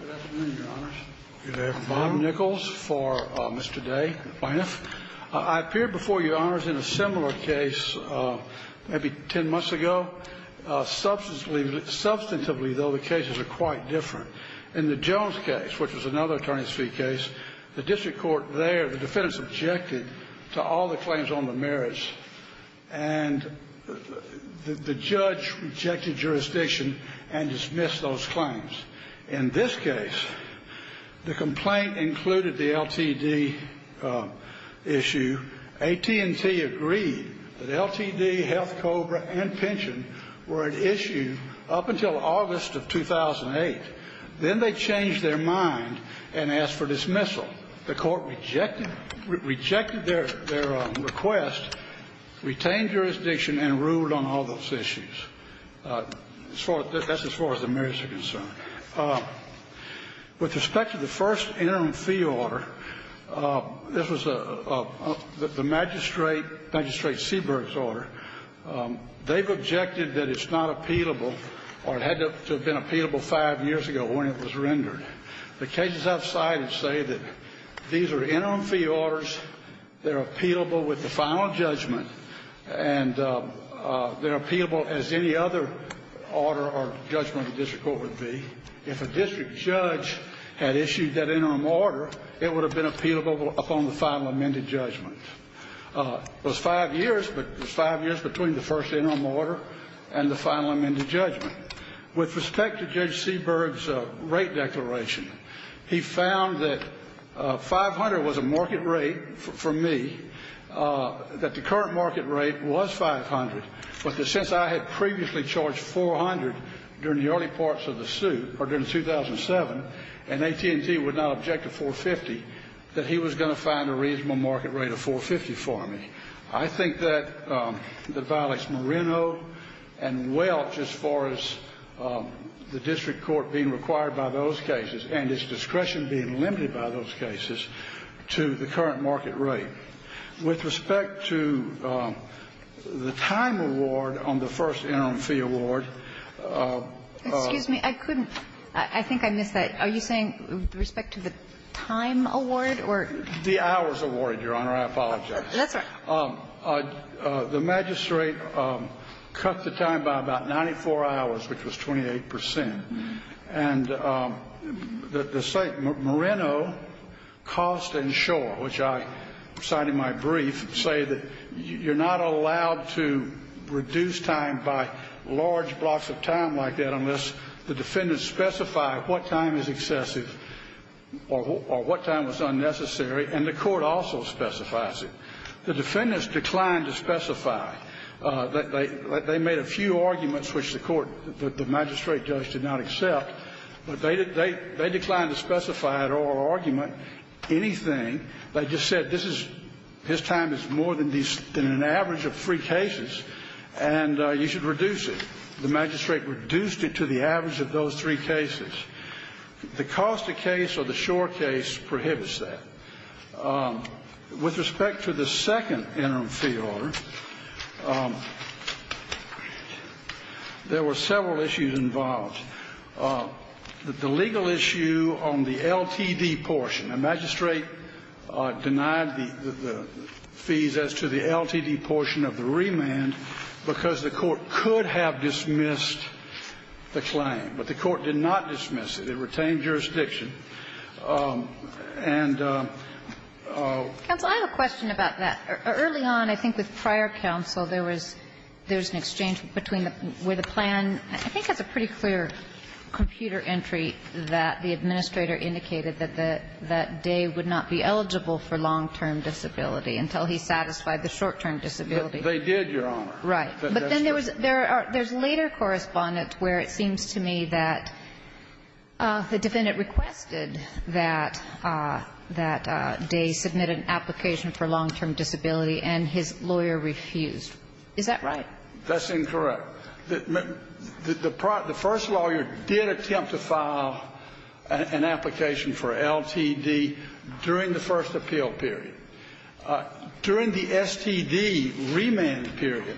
Good afternoon, Your Honors. Good afternoon. I'm Bob Nichols for Mr. Day, Bynum. I appeared before Your Honors in a similar case maybe 10 months ago. Substantively, though, the cases are quite different. In the Jones case, which was another attorney's fee case, the district court there, the defendants objected to all the claims on the merits, and the judge rejected jurisdiction and dismissed those claims. In this case, the complaint included the LTD issue. AT&T agreed that LTD, HealthCobra, and pension were at issue up until August of 2008. Then they changed their mind and asked for dismissal. The court rejected their request, retained jurisdiction, and ruled on all those issues. That's as far as the merits are concerned. With respect to the first interim fee order, this was the Magistrate Seberg's order. They've objected that it's not appealable, or it had to have been appealable five years ago when it was rendered. The cases I've cited say that these are interim fee orders, they're appealable with the final judgment, and they're appealable as any other order or judgment the district court would be. If a district judge had issued that interim order, it would have been appealable upon the final amended judgment. It was five years, but it was five years between the first interim order and the final amended judgment. With respect to Judge Seberg's rate declaration, he found that 500 was a market rate for me, that the current market rate was 500, but that since I had previously charged 400 during the early parts of the suit, or during 2007, and AT&T would not object to 450, that he was going to find a reasonable market rate of 450 for me. I think that that violates Moreno and Welch as far as the district court being required by those cases and its discretion being limited by those cases to the current market rate. With respect to the time award on the first interim fee award. Kagan. I couldn't. I think I missed that. Are you saying with respect to the time award or the hours award, Your Honor? I apologize. That's all right. The magistrate cut the time by about 94 hours, which was 28 percent. And the St. Moreno cost insure, which I cite in my brief, say that you're not allowed to reduce time by large blocks of time like that unless the defendant specifies what time is excessive or what time is unnecessary. And the court also specifies it. The defendants declined to specify. They made a few arguments, which the court, the magistrate judge did not accept, but they declined to specify at oral argument anything. They just said this is his time is more than an average of three cases, and you should reduce it. The magistrate reduced it to the average of those three cases. The cost of case or the sure case prohibits that. With respect to the second interim fee order, there were several issues involved. The legal issue on the LTD portion, the magistrate denied the fees as to the LTD portion of the remand because the court could have dismissed the claim. But the court did not dismiss it. It retained jurisdiction. And though... NAFTALI I have a question about that. Early on, I think with prior counsel, there was there was an exchange between the plan and it was a pretty clear computer entry that the administrator indicated that Daye would not be eligible for long-term disability until he satisfied the short-term disability. Bye. That's why they did, Your Honor. When they said, nine days eh. The defendant requested that Daye submit an application for long-term disability and his lawyer refused. Is that right? That's incorrect. The first lawyer did attempt to file an application for LTD during the first appeal period. During the STD remand period,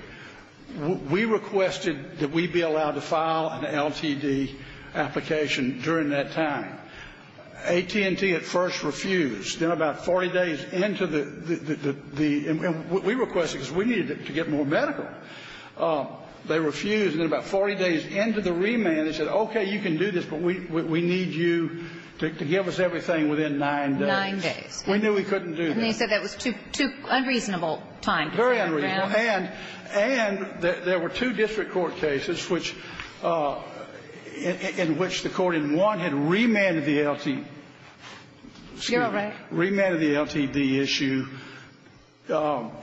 we requested that we be allowed to file an LTD application during that time. AT&T at first refused. Then about 40 days into the, the, the, the, and we requested because we needed to get more medical. They refused. And then about 40 days into the remand, they said, okay, you can do this, but we, we need you to give us everything within nine days. Nine days. We knew we couldn't do that. And they said that was too, too unreasonable time to sit around. Very unreasonable. And, and there were two district court cases which, in which the court in one had remanded the LTD. You're right. Remanded the LTD issue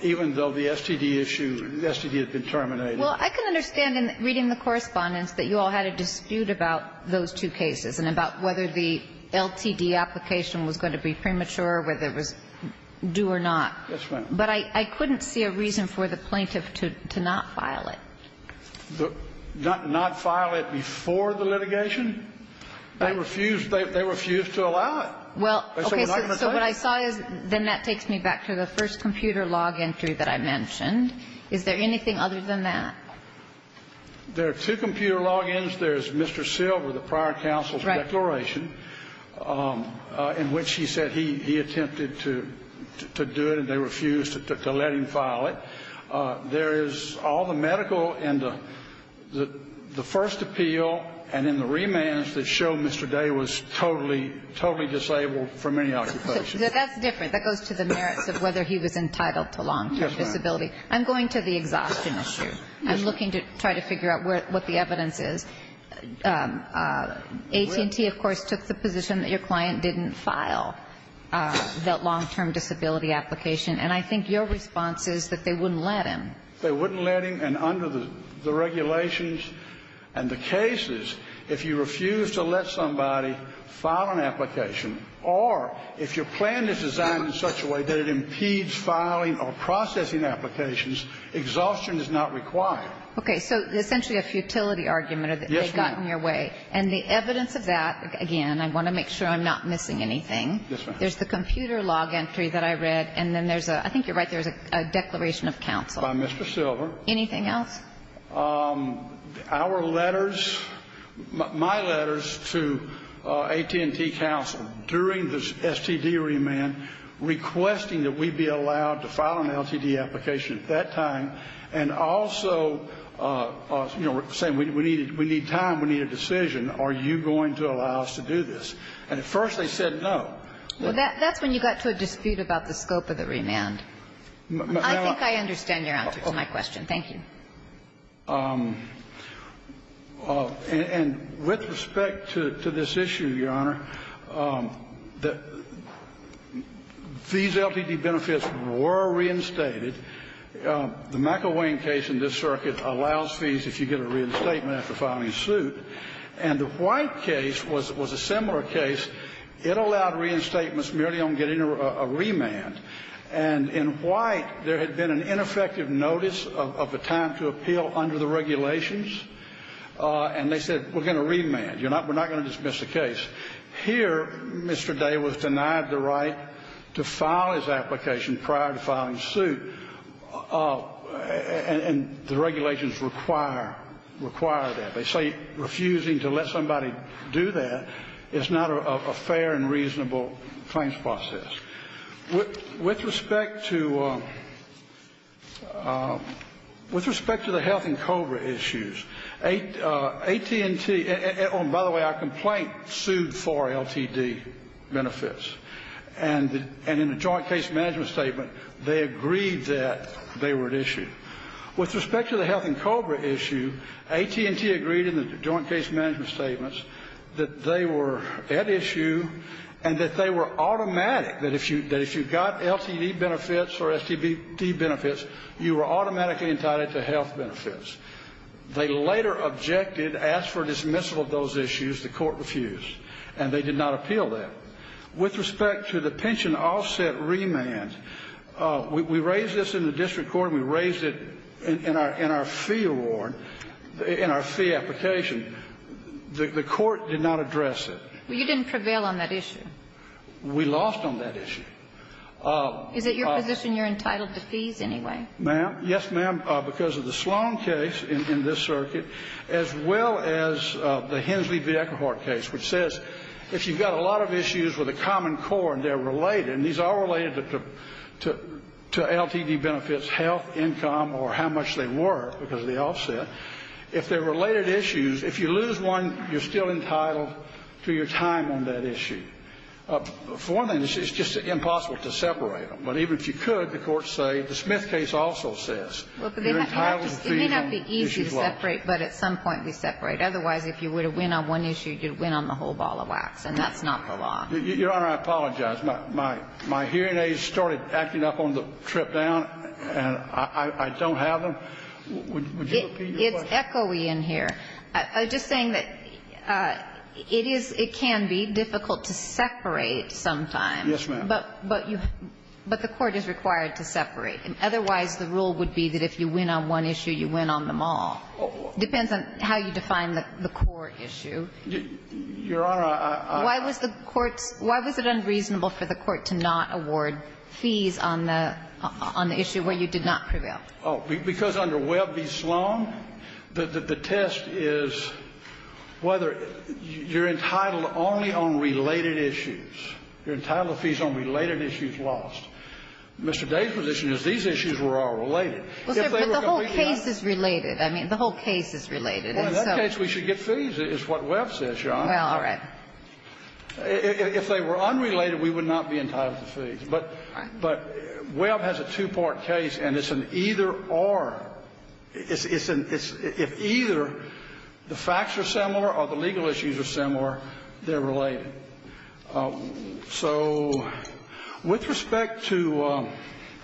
even though the STD issue, the STD had been terminated. Well, I can understand in reading the correspondence that you all had a dispute about those two cases and about whether the LTD application was going to be premature, whether it was due or not. Yes, ma'am. But I, I couldn't see a reason for the plaintiff to, to not file it. The, not, not file it before the litigation? They refused, they, they refused to allow it. Well, okay, so what I saw is, then that takes me back to the first computer log entry that I mentioned. Is there anything other than that? There are two computer logins. There's Mr. Silver, the prior counsel's declaration, in which he said he, he attempted to, to do it and they refused to, to let him file it. There is all the medical and the, the first appeal and in the remands that show Mr. Day was totally, totally disabled from any occupation. That's different. That goes to the merits of whether he was entitled to long-term disability. I'm going to the exhaustion issue. I'm looking to try to figure out where, what the evidence is. AT&T, of course, took the position that your client didn't file that long-term disability application. And I think your response is that they wouldn't let him. They wouldn't let him. And under the regulations and the cases, if you refuse to let somebody file an application or if your plan is designed in such a way that it impedes filing or processing applications, exhaustion is not required. Okay. So essentially a futility argument. Yes, ma'am. Or they got in your way. And the evidence of that, again, I want to make sure I'm not missing anything. Yes, ma'am. There's the computer log entry that I read and then there's a, I think you're right, there's a declaration of counsel. By Mr. Silver. Anything else? Our letters, my letters to AT&T counsel during the STD remand requesting that we be allowed to file an LTD application at that time and also saying we need time, we need a decision. Are you going to allow us to do this? And at first they said no. Well, that's when you got to a dispute about the scope of the remand. I think I understand your answer to my question. Thank you. And with respect to this issue, Your Honor, these LTD benefits were reinstated. The McElwain case in this circuit allows fees if you get a reinstatement after filing a suit. And the White case was a similar case. It allowed reinstatements merely on getting a remand. And in White, there had been an ineffective notice of a time to appeal under the regulations and they said we're going to remand. We're not going to dismiss the case. Here, Mr. Day was denied the right to file his application prior to filing suit. And the regulations require, require that. They say refusing to let somebody do that is not a fair and reasonable claims process. With respect to, with respect to the Health and COBRA issues, AT&T, oh, and by the way, our complaint sued for LTD benefits. And in the joint case management statement, they agreed that they were at issue. With respect to the Health and COBRA issue, AT&T agreed in the joint case management statements that they were at issue and that they were automatic, that if you got LTD benefits or STD benefits, you were automatically entitled to health benefits. They later objected, asked for a dismissal of those issues. The court refused. And they did not appeal that. With respect to the pension offset remand, we raised this in the district court and we raised it in our fee award, in our fee application. The court did not address it. Well, you didn't prevail on that issue. We lost on that issue. Is it your position you're entitled to fees anyway? Ma'am, yes, ma'am, because of the Sloan case in this circuit, as well as the Hensley-Vieckerhart case, which says if you've got a lot of issues with a common core and they're related, and these are related to LTD benefits, health, income, or how much they were because of the offset, if they're related issues, if you lose one, you're still entitled to your time on that issue. For one thing, it's just impossible to separate them. But even if you could, the courts say, the Smith case also says, you're entitled to fees on issues lost. It may not be easy to separate, but at some point we separate. Otherwise, if you were to win on one issue, you'd win on the whole ball of wax, and that's not the law. Your Honor, I apologize. My hearing aids started acting up on the trip down, and I don't have them. It's echoey in here. I'm just saying that it is – it can be difficult to separate sometimes. Yes, ma'am. But you – but the court is required to separate. Otherwise, the rule would be that if you win on one issue, you win on them all. It depends on how you define the core issue. Your Honor, I – I – Why was the courts – why was it unreasonable for the court to not award fees on the – on the issue where you did not prevail? Oh, because under Webb v. Sloan, the test is whether you're entitled only on related issues. You're entitled to fees on related issues lost. Mr. Day's position is these issues were all related. Well, sir, but the whole case is related. I mean, the whole case is related. Well, in that case, we should get fees, is what Webb says, Your Honor. Well, all right. If they were unrelated, we would not be entitled to fees. But – but Webb has a two-part case, and it's an either-or. It's an – it's – if either the facts are similar or the legal issues are similar, they're related. So with respect to –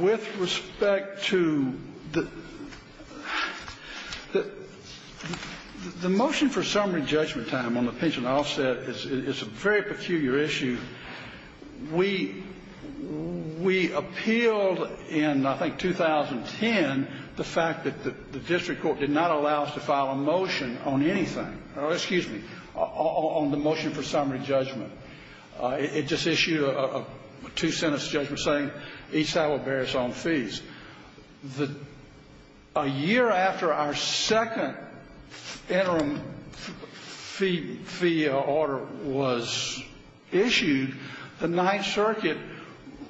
with respect to the – the motion for summary judgment time on the pension offset is a very perfuse motion. We – we appealed in, I think, 2010 the fact that the district court did not allow us to file a motion on anything – or, excuse me, on the motion for summary judgment. It just issued a two-sentence judgment saying each side will bear its own fees. The – a year after our second interim fee – fee order was issued, the Ninth Circuit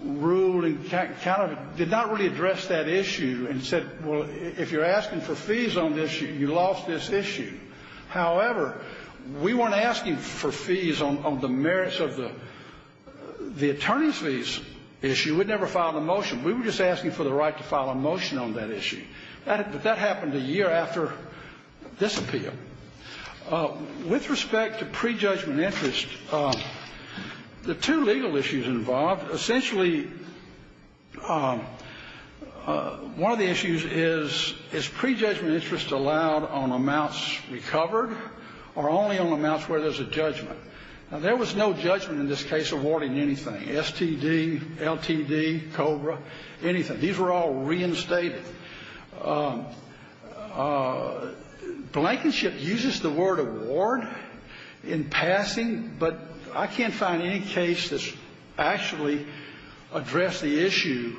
ruled and kind of did not really address that issue and said, well, if you're asking for fees on this, you lost this issue. However, we weren't asking for fees on the merits of the – the attorney's fees issue. We'd never filed a motion. We were just asking for the right to file a motion on that issue. That – but that happened a year after this appeal. With respect to pre-judgment interest, the two legal issues involved, essentially one of the issues is, is pre-judgment interest allowed on amounts recovered or only on amounts where there's a judgment? Now, there was no judgment in this case awarding anything. STD, LTD, COBRA, anything. These were all reinstated. Blankenship uses the word award in passing, but I can't find any case that's actually addressed the issue.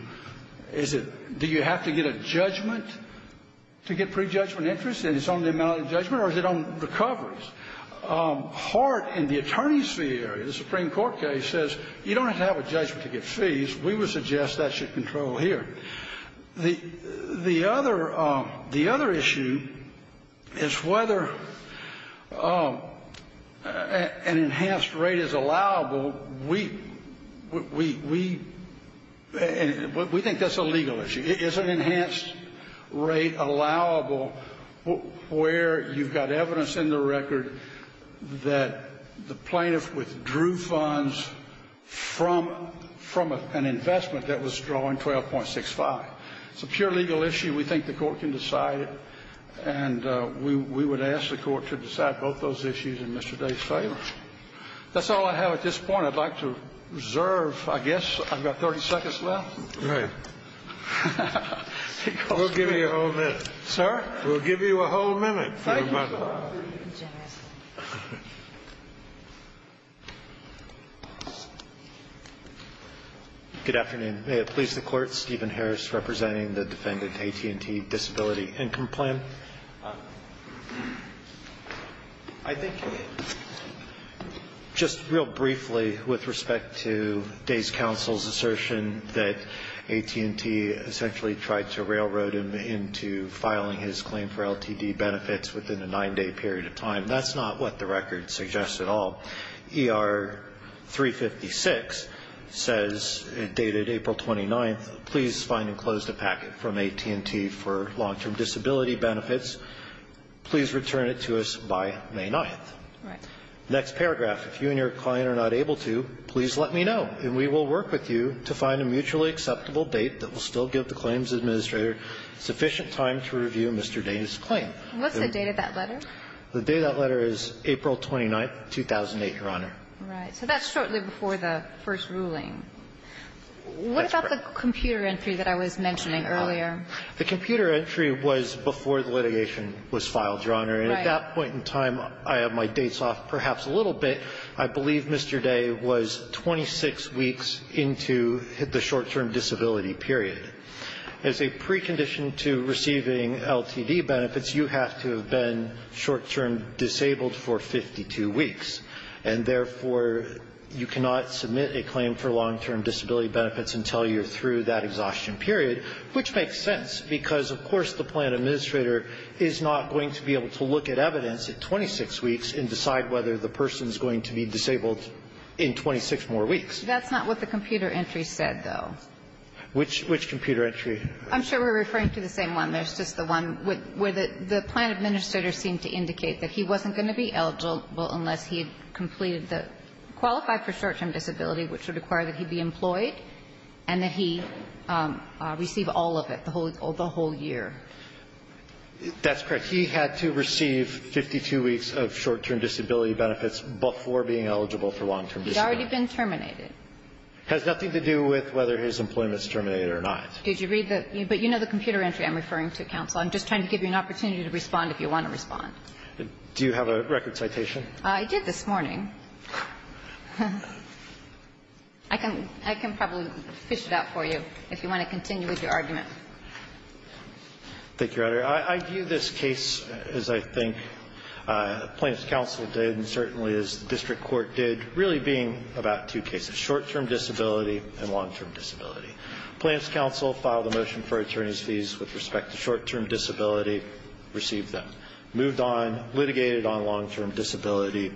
Is it – do you have to get a judgment to get pre-judgment interest, and it's only the amount of judgment, or is it on recoveries? Hart in the attorney's fee area, the Supreme Court case, says you don't have to have a judgment to get fees. We would suggest that should control here. The other – the other issue is whether an enhanced rate is allowable. We – we think that's a legal issue. Is an enhanced rate allowable where you've got evidence in the record that the plaintiff withdrew funds from – from an investment that was drawing 12.65? It's a pure legal issue. We think the Court can decide it, and we would ask the Court to decide both those issues in Mr. Day's favor. That's all I have at this point. I'd like to reserve, I guess, I've got 30 seconds left. All right. We'll give you a whole minute. Sir? We'll give you a whole minute. Thank you. Good afternoon. May it please the Court, Stephen Harris representing the defendant, AT&T, disability income plan. I think just real briefly with respect to Day's counsel's assertion that AT&T essentially tried to railroad him into filing his claim for LTD benefits within a nine-day period of time. That's not what the record suggests at all. ER 356 says, dated April 29th, please find and close the packet from AT&T for long-term disability benefits. Please return it to us by May 9th. Right. Next paragraph. If you and your client are not able to, please let me know, and we will work with you to find a mutually acceptable date that will still give the claims administrator sufficient time to review Mr. Day's claim. What's the date of that letter? The date of that letter is April 29th, 2008, Your Honor. Right. So that's shortly before the first ruling. That's correct. What about the computer entry that I was mentioning earlier? The computer entry was before the litigation was filed, Your Honor. Right. And at that point in time, I have my dates off perhaps a little bit. I believe Mr. Day was 26 weeks into the short-term disability period. As a precondition to receiving LTD benefits, you have to have been short-term disabled for 52 weeks. And therefore, you cannot submit a claim for long-term disability benefits until you're through that exhaustion period, which makes sense because, of course, the plan administrator is not going to be able to look at evidence at 26 weeks and decide whether the person is going to be disabled in 26 more weeks. That's not what the computer entry said, though. Which computer entry? I'm sure we're referring to the same one. There's just the one where the plan administrator seemed to indicate that he wasn't going to be eligible unless he had completed the qualified for short-term disability, which would require that he be employed and that he receive all of it, the whole year. That's correct. He had to receive 52 weeks of short-term disability benefits before being eligible for long-term disability. He's already been terminated. It has nothing to do with whether his employment is terminated or not. Did you read the – but you know the computer entry I'm referring to, counsel. I'm just trying to give you an opportunity to respond if you want to respond. Do you have a record citation? I did this morning. I can probably fish it out for you if you want to continue with your argument. Thank you, Your Honor. I view this case as I think plaintiff's counsel did and certainly as the district court did, really being about two cases, short-term disability and long-term disability. Plaintiff's counsel filed a motion for attorney's fees with respect to short-term disability, received them, moved on, litigated on long-term disability, and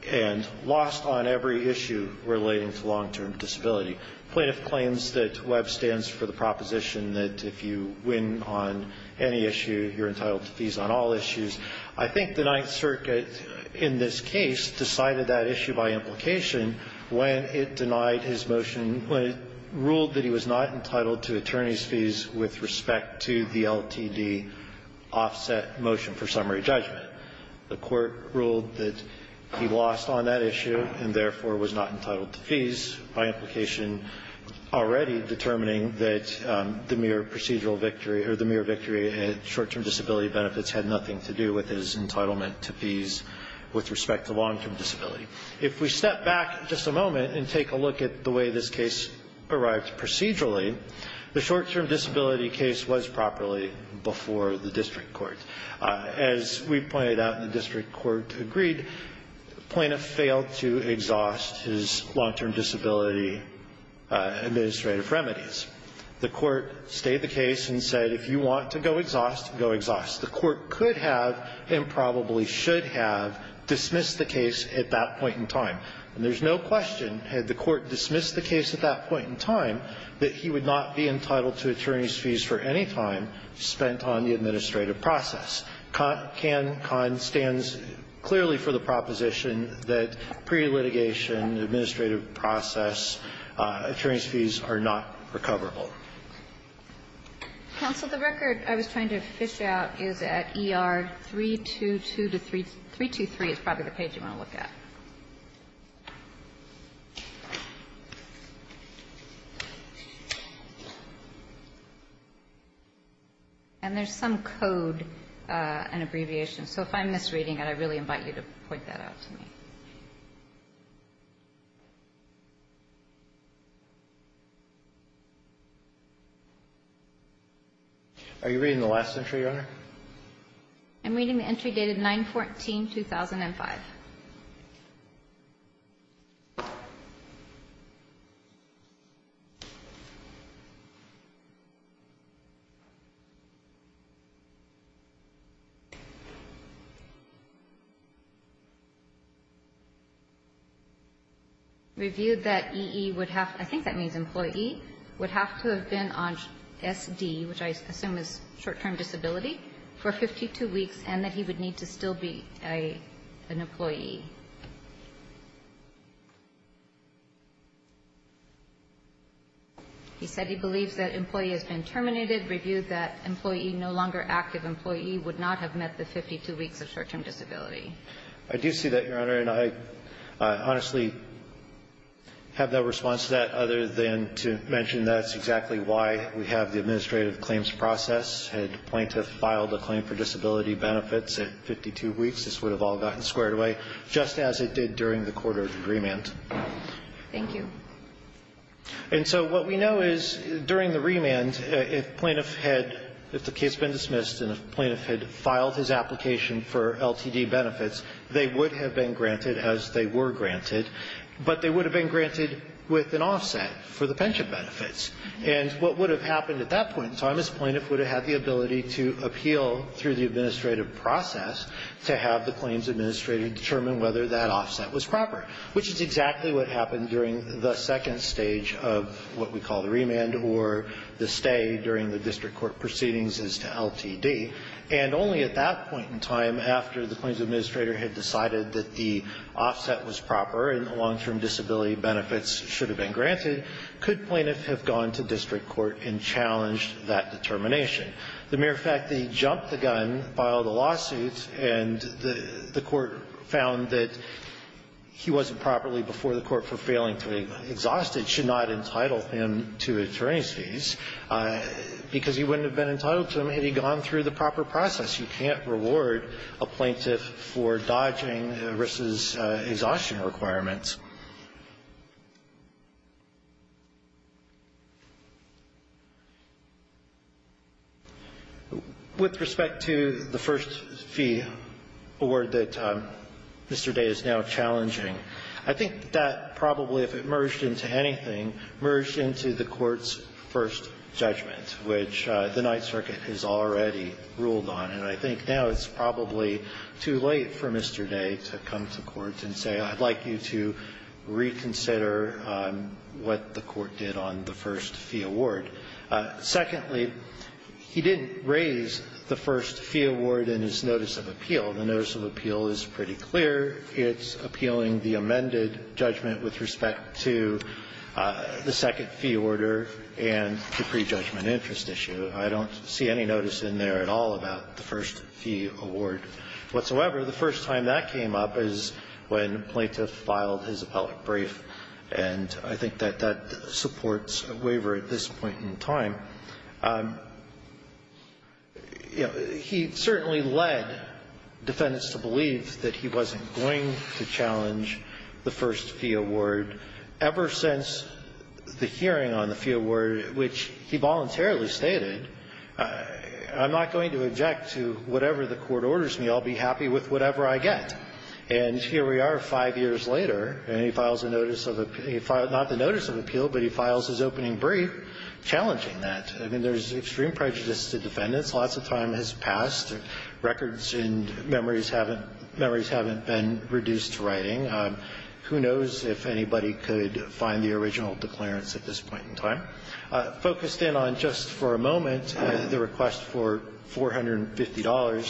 the end, lost on every issue relating to long-term disability. Plaintiff claims that Webb stands for the proposition that if you win on any issue, you're entitled to fees on all issues. I think the Ninth Circuit in this case decided that issue by implication when it denied his motion, when it ruled that he was not entitled to attorney's fees with respect to the LTD offset motion for summary judgment. The court ruled that he lost on that issue and therefore was not entitled to fees by implication already determining that the mere procedural victory or the mere victory in short-term disability benefits had nothing to do with his entitlement to fees with respect to long-term disability. If we step back just a moment and take a look at the way this case arrived procedurally, the short-term disability case was properly before the district court. As we pointed out in the district court agreed, plaintiff failed to exhaust his long-term disability administrative remedies. The court stayed the case and said if you want to go exhaust, go exhaust. The court could have and probably should have dismissed the case at that point in time. And there's no question had the court dismissed the case at that point in time that he would not be entitled to attorney's fees for any time spent on the process. CAN-CON stands clearly for the proposition that pre-litigation, administrative process, attorney's fees are not recoverable. Counsel, the record I was trying to fish out is at ER-322 to 323. It's probably the page you want to look at. And there's some code, an abbreviation. So if I'm misreading it, I really invite you to point that out to me. Are you reading the last entry, Your Honor? I'm reading the entry dated 9-14-2005. Reviewed that E.E. would have to be on SD, which I assume is short-term disability, for 52 weeks and that he would need to still be an employee. He said he believes that employee has been terminated. Reviewed that employee, no longer active employee, would not have met the 52 weeks of short-term disability. I do see that, Your Honor. And I honestly have no response to that other than to mention that's exactly why we have the administrative claims process. Had the plaintiff filed a claim for disability benefits at 52 weeks, this would have all gotten squared away, just as it did during the court-ordered remand. Thank you. And so what we know is during the remand, if plaintiff had the case been dismissed and the plaintiff had filed his application for LTD benefits, they would have been granted, as they were granted, but they would have been granted with an offset for the pension benefits. And what would have happened at that point in time is plaintiff would have had the ability to appeal through the administrative process to have the claims administrator determine whether that offset was proper, which is exactly what happened during the second stage of what we call the remand or the stay during the district court proceedings as to LTD. And only at that point in time, after the claims administrator had decided that the offset was proper and the long-term disability benefits should have been challenged that determination. The mere fact that he jumped the gun, filed a lawsuit, and the court found that he wasn't properly before the court for failing to exhaust it should not entitle him to attorney's fees, because he wouldn't have been entitled to them had he gone through the proper process. You can't reward a plaintiff for dodging ERISA's exhaustion requirements. With respect to the first fee award that Mr. Day is now challenging, I think that probably, if it merged into anything, merged into the court's first judgment, which the Ninth Circuit has already ruled on. And I think now it's probably too late for Mr. Day to come to court and say, I'd like you to reconsider what the court did on the first fee award. Secondly, he didn't raise the first fee award in his notice of appeal. The notice of appeal is pretty clear. It's appealing the amended judgment with respect to the second fee order and the prejudgment interest issue. I don't see any notice in there at all about the first fee award whatsoever. However, the first time that came up is when a plaintiff filed his appellate brief, and I think that that supports a waiver at this point in time. He certainly led defendants to believe that he wasn't going to challenge the first fee award ever since the hearing on the fee award, which he voluntarily stated, I'm not going to object to whatever the court orders me. I'll be happy with whatever I get. And here we are five years later, and he files a notice of appeal. Not the notice of appeal, but he files his opening brief challenging that. I mean, there's extreme prejudice to defendants. Lots of time has passed. Records and memories haven't been reduced to writing. Kagan, you're up. Focused in on just for a moment the request for $450,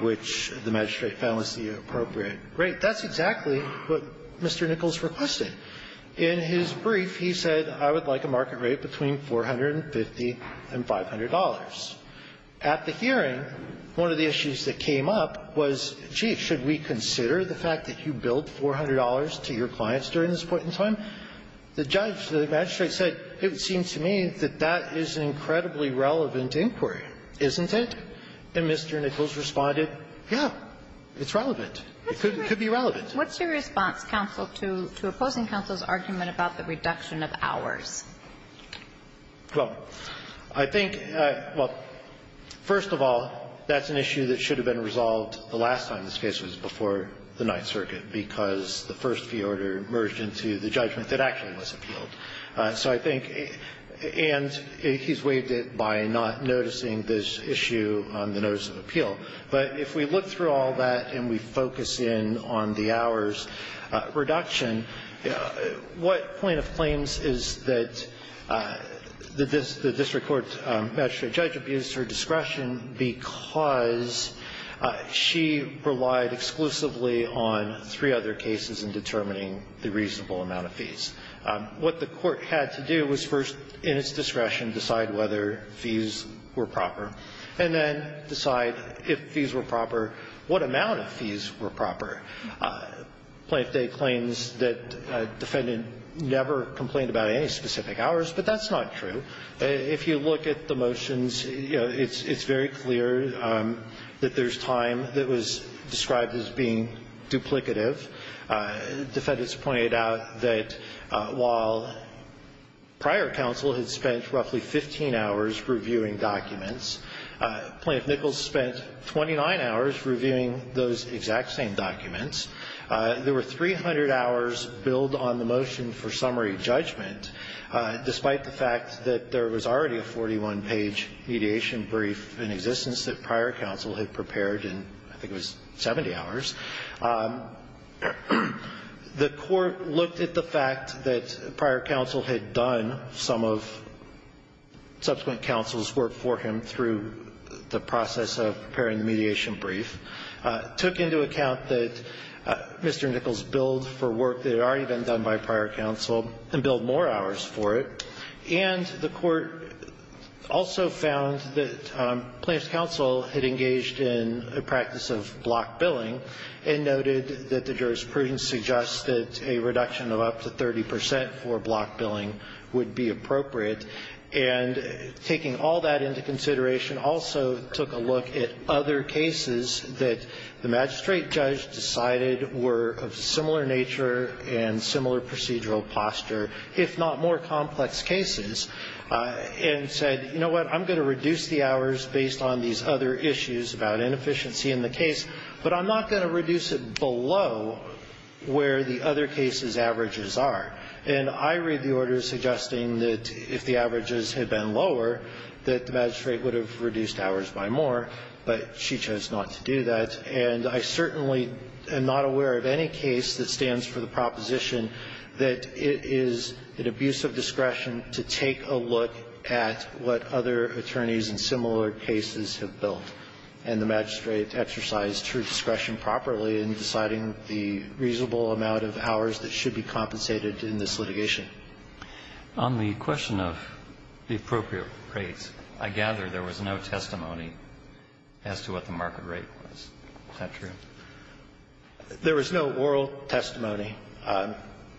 which the magistrate found to be appropriate. Right. That's exactly what Mr. Nichols requested. In his brief, he said, I would like a market rate between 450 and $500. At the hearing, one of the issues that came up was, gee, should we consider the fact that you billed $400 to your clients during this point in time? The judge, the magistrate said, it seems to me that that is an incredibly relevant inquiry, isn't it? And Mr. Nichols responded, yeah, it's relevant. It could be relevant. What's your response, counsel, to opposing counsel's argument about the reduction of hours? Well, I think, well, first of all, that's an issue that should have been resolved the last time this case was before the Ninth Circuit, because the first fee order merged into the judgment that actually was appealed. So I think, and he's waived it by not noticing this issue on the notice of appeal. But if we look through all that and we focus in on the hours reduction, what point of claims is that the district court magistrate judge abused her discretion because she relied exclusively on three other cases in determining the reasonable amount of fees? What the court had to do was first, in its discretion, decide whether fees were proper, and then decide if fees were proper, what amount of fees were proper. Plaintiff Day claims that defendant never complained about any specific hours, but that's not true. If you look at the motions, you know, it's very clear that there's time that was described as being duplicative. Defendants pointed out that while prior counsel had spent roughly 15 hours reviewing documents, Plaintiff Nichols spent 29 hours reviewing those exact same documents. There were 300 hours billed on the motion for summary judgment, despite the fact that there was already a 41-page mediation brief in existence that prior counsel had prepared in I think it was 70 hours. The court looked at the fact that prior counsel had done some of subsequent counsel's work for him through the process of preparing the mediation brief, took into account that Mr. Nichols billed for work that had already been done by prior counsel, and billed more hours for it. And the court also found that plaintiff's counsel had engaged in a practice of block billing and noted that the jurisprudence suggests that a reduction of up to 30 percent for block billing would be appropriate. And taking all that into consideration also took a look at other cases that the magistrate judge decided were of similar nature and similar procedural posture, if not more complex cases, and said, you know what, I'm going to reduce the hours based on these other issues about inefficiency in the case, but I'm not going to reduce it below where the other cases' averages are. And I read the order suggesting that if the averages had been lower, that the magistrate would have reduced hours by more, but she chose not to do that. And I certainly am not aware of any case that stands for the proposition that it is an abuse of discretion to take a look at what other attorneys in similar cases have billed, and the magistrate exercised her discretion properly in deciding the reasonable amount of hours that should be compensated in this litigation. On the question of the appropriate rates, I gather there was no testimony as to what the market rate was. Is that true? There was no oral testimony.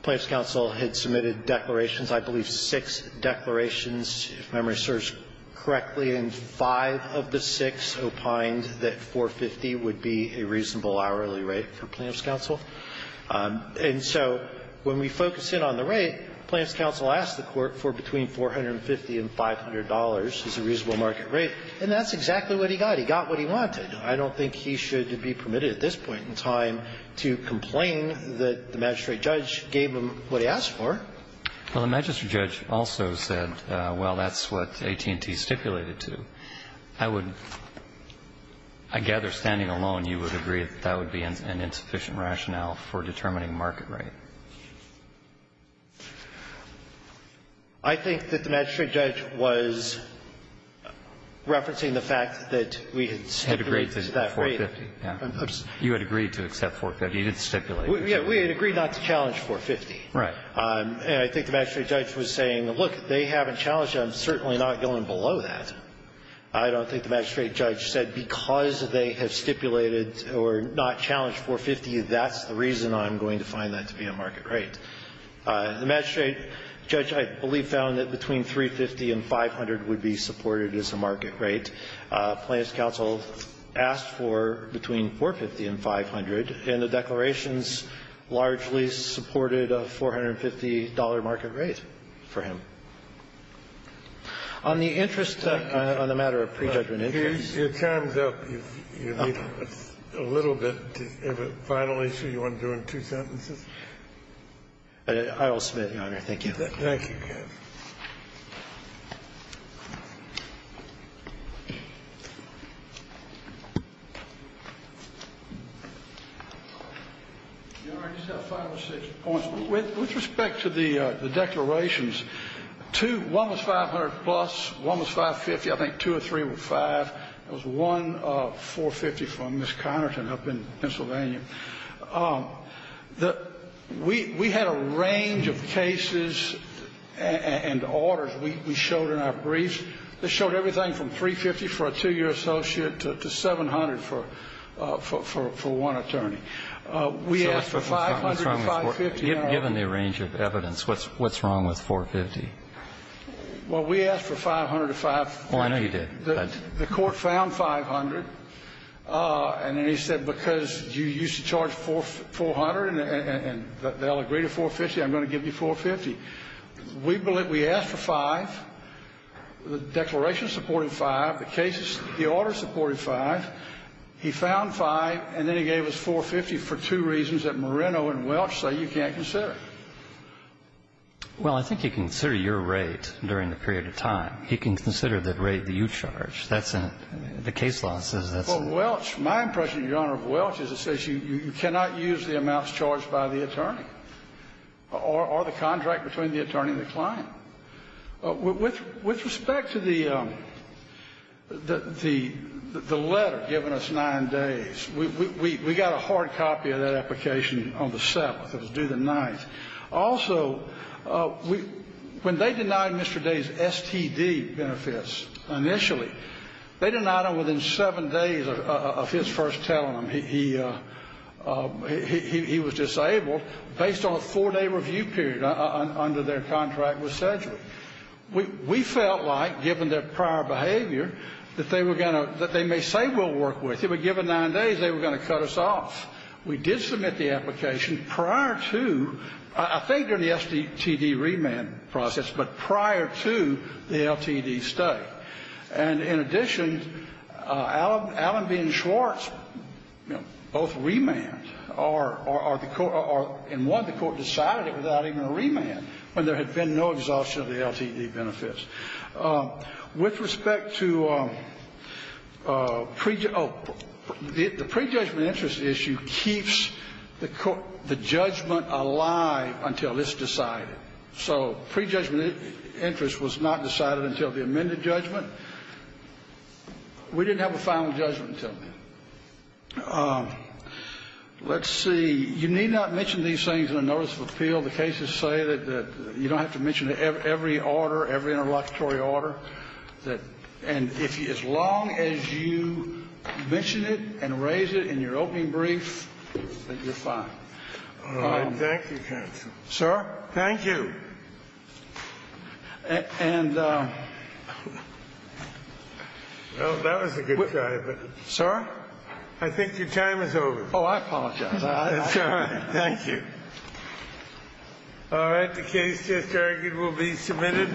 Plaintiff's counsel had submitted declarations, I believe six declarations, if my memory serves correctly, and five of the six opined that 450 would be a reasonable hourly rate for plaintiff's counsel. And so when we focus in on the rate, plaintiff's counsel asked the Court for between 450 and $500 as a reasonable market rate, and that's exactly what he got. He got what he wanted. I don't think he should be permitted at this point in time to complain that the magistrate judge gave him what he asked for. Well, the magistrate judge also said, well, that's what AT&T stipulated to. I would, I gather standing alone you would agree that that would be an insufficient rationale for determining market rate. I think that the magistrate judge was referencing the fact that we had stipulated that rate. Had agreed to 450. You had agreed to accept 450. You did stipulate. We had agreed not to challenge 450. Right. And I think the magistrate judge was saying, look, they haven't challenged I'm certainly not going below that. I don't think the magistrate judge said because they have stipulated or not challenged 450, that's the reason I'm going to find that to be a market rate. The magistrate judge, I believe, found that between 350 and 500 would be supported as a market rate. Plaintiff's counsel asked for between 450 and 500, and the declarations largely supported a $450 market rate for him. On the interest on the matter of prejudgment interest. Your time is up. You have a little bit of a final issue you want to do in two sentences? I will submit, Your Honor. Thank you. Thank you. Your Honor, I just have five or six points. With respect to the declarations, two, one was 500 plus, one was 550. I think two or three were five. It was one 450 from Ms. Connerton up in Pennsylvania. We had a range of cases and orders we showed in our briefs that showed everything from 350 for a two-year associate to 700 for one attorney. We asked for 500 to 550. Given the range of evidence, what's wrong with 450? Well, we asked for 500 to 550. Well, I know you did. The Court found 500, and then he said because you used to charge 400 and they'll agree to 450, I'm going to give you 450. We asked for five. The declarations supported five. The cases, the orders supported five. He found five, and then he gave us 450 for two reasons that Moreno and Welch say you can't consider. Well, I think he can consider your rate during the period of time. He can consider the rate that you charge. That's it. The case law says that's it. Well, Welch, my impression, Your Honor, of Welch is it says you cannot use the amounts charged by the attorney or the contract between the attorney and the client. With respect to the letter given us nine days, we got a hard copy of that application on the 7th. It was due the 9th. Also, when they denied Mr. Day's STD benefits initially, they denied them within seven days of his first telling them he was disabled based on a four-day review period under their contract with Sedgwick. We felt like, given their prior behavior, that they were going to they may say we'll work with you, but given nine days, they were going to cut us off. We did submit the application prior to, I think during the STD remand process, but prior to the LTD study. And in addition, Allenby and Schwartz, you know, both remanded, or in one, the Court decided it without even a remand when there had been no exhaustion of the LTD benefits. With respect to pre-judgment, oh, the pre-judgment interest issue keeps the court, the judgment alive until it's decided. So pre-judgment interest was not decided until the amended judgment. We didn't have a final judgment until then. Let's see. Well, the cases say that you don't have to mention every order, every interlocutory order, and as long as you mention it and raise it in your opening brief, then you're fine. All right. Thank you, counsel. Sir? Thank you. And... Well, that was a good try, but... Sir? I think your time is over. Oh, I apologize. It's all right. Thank you. All right. The case just argued will be submitted.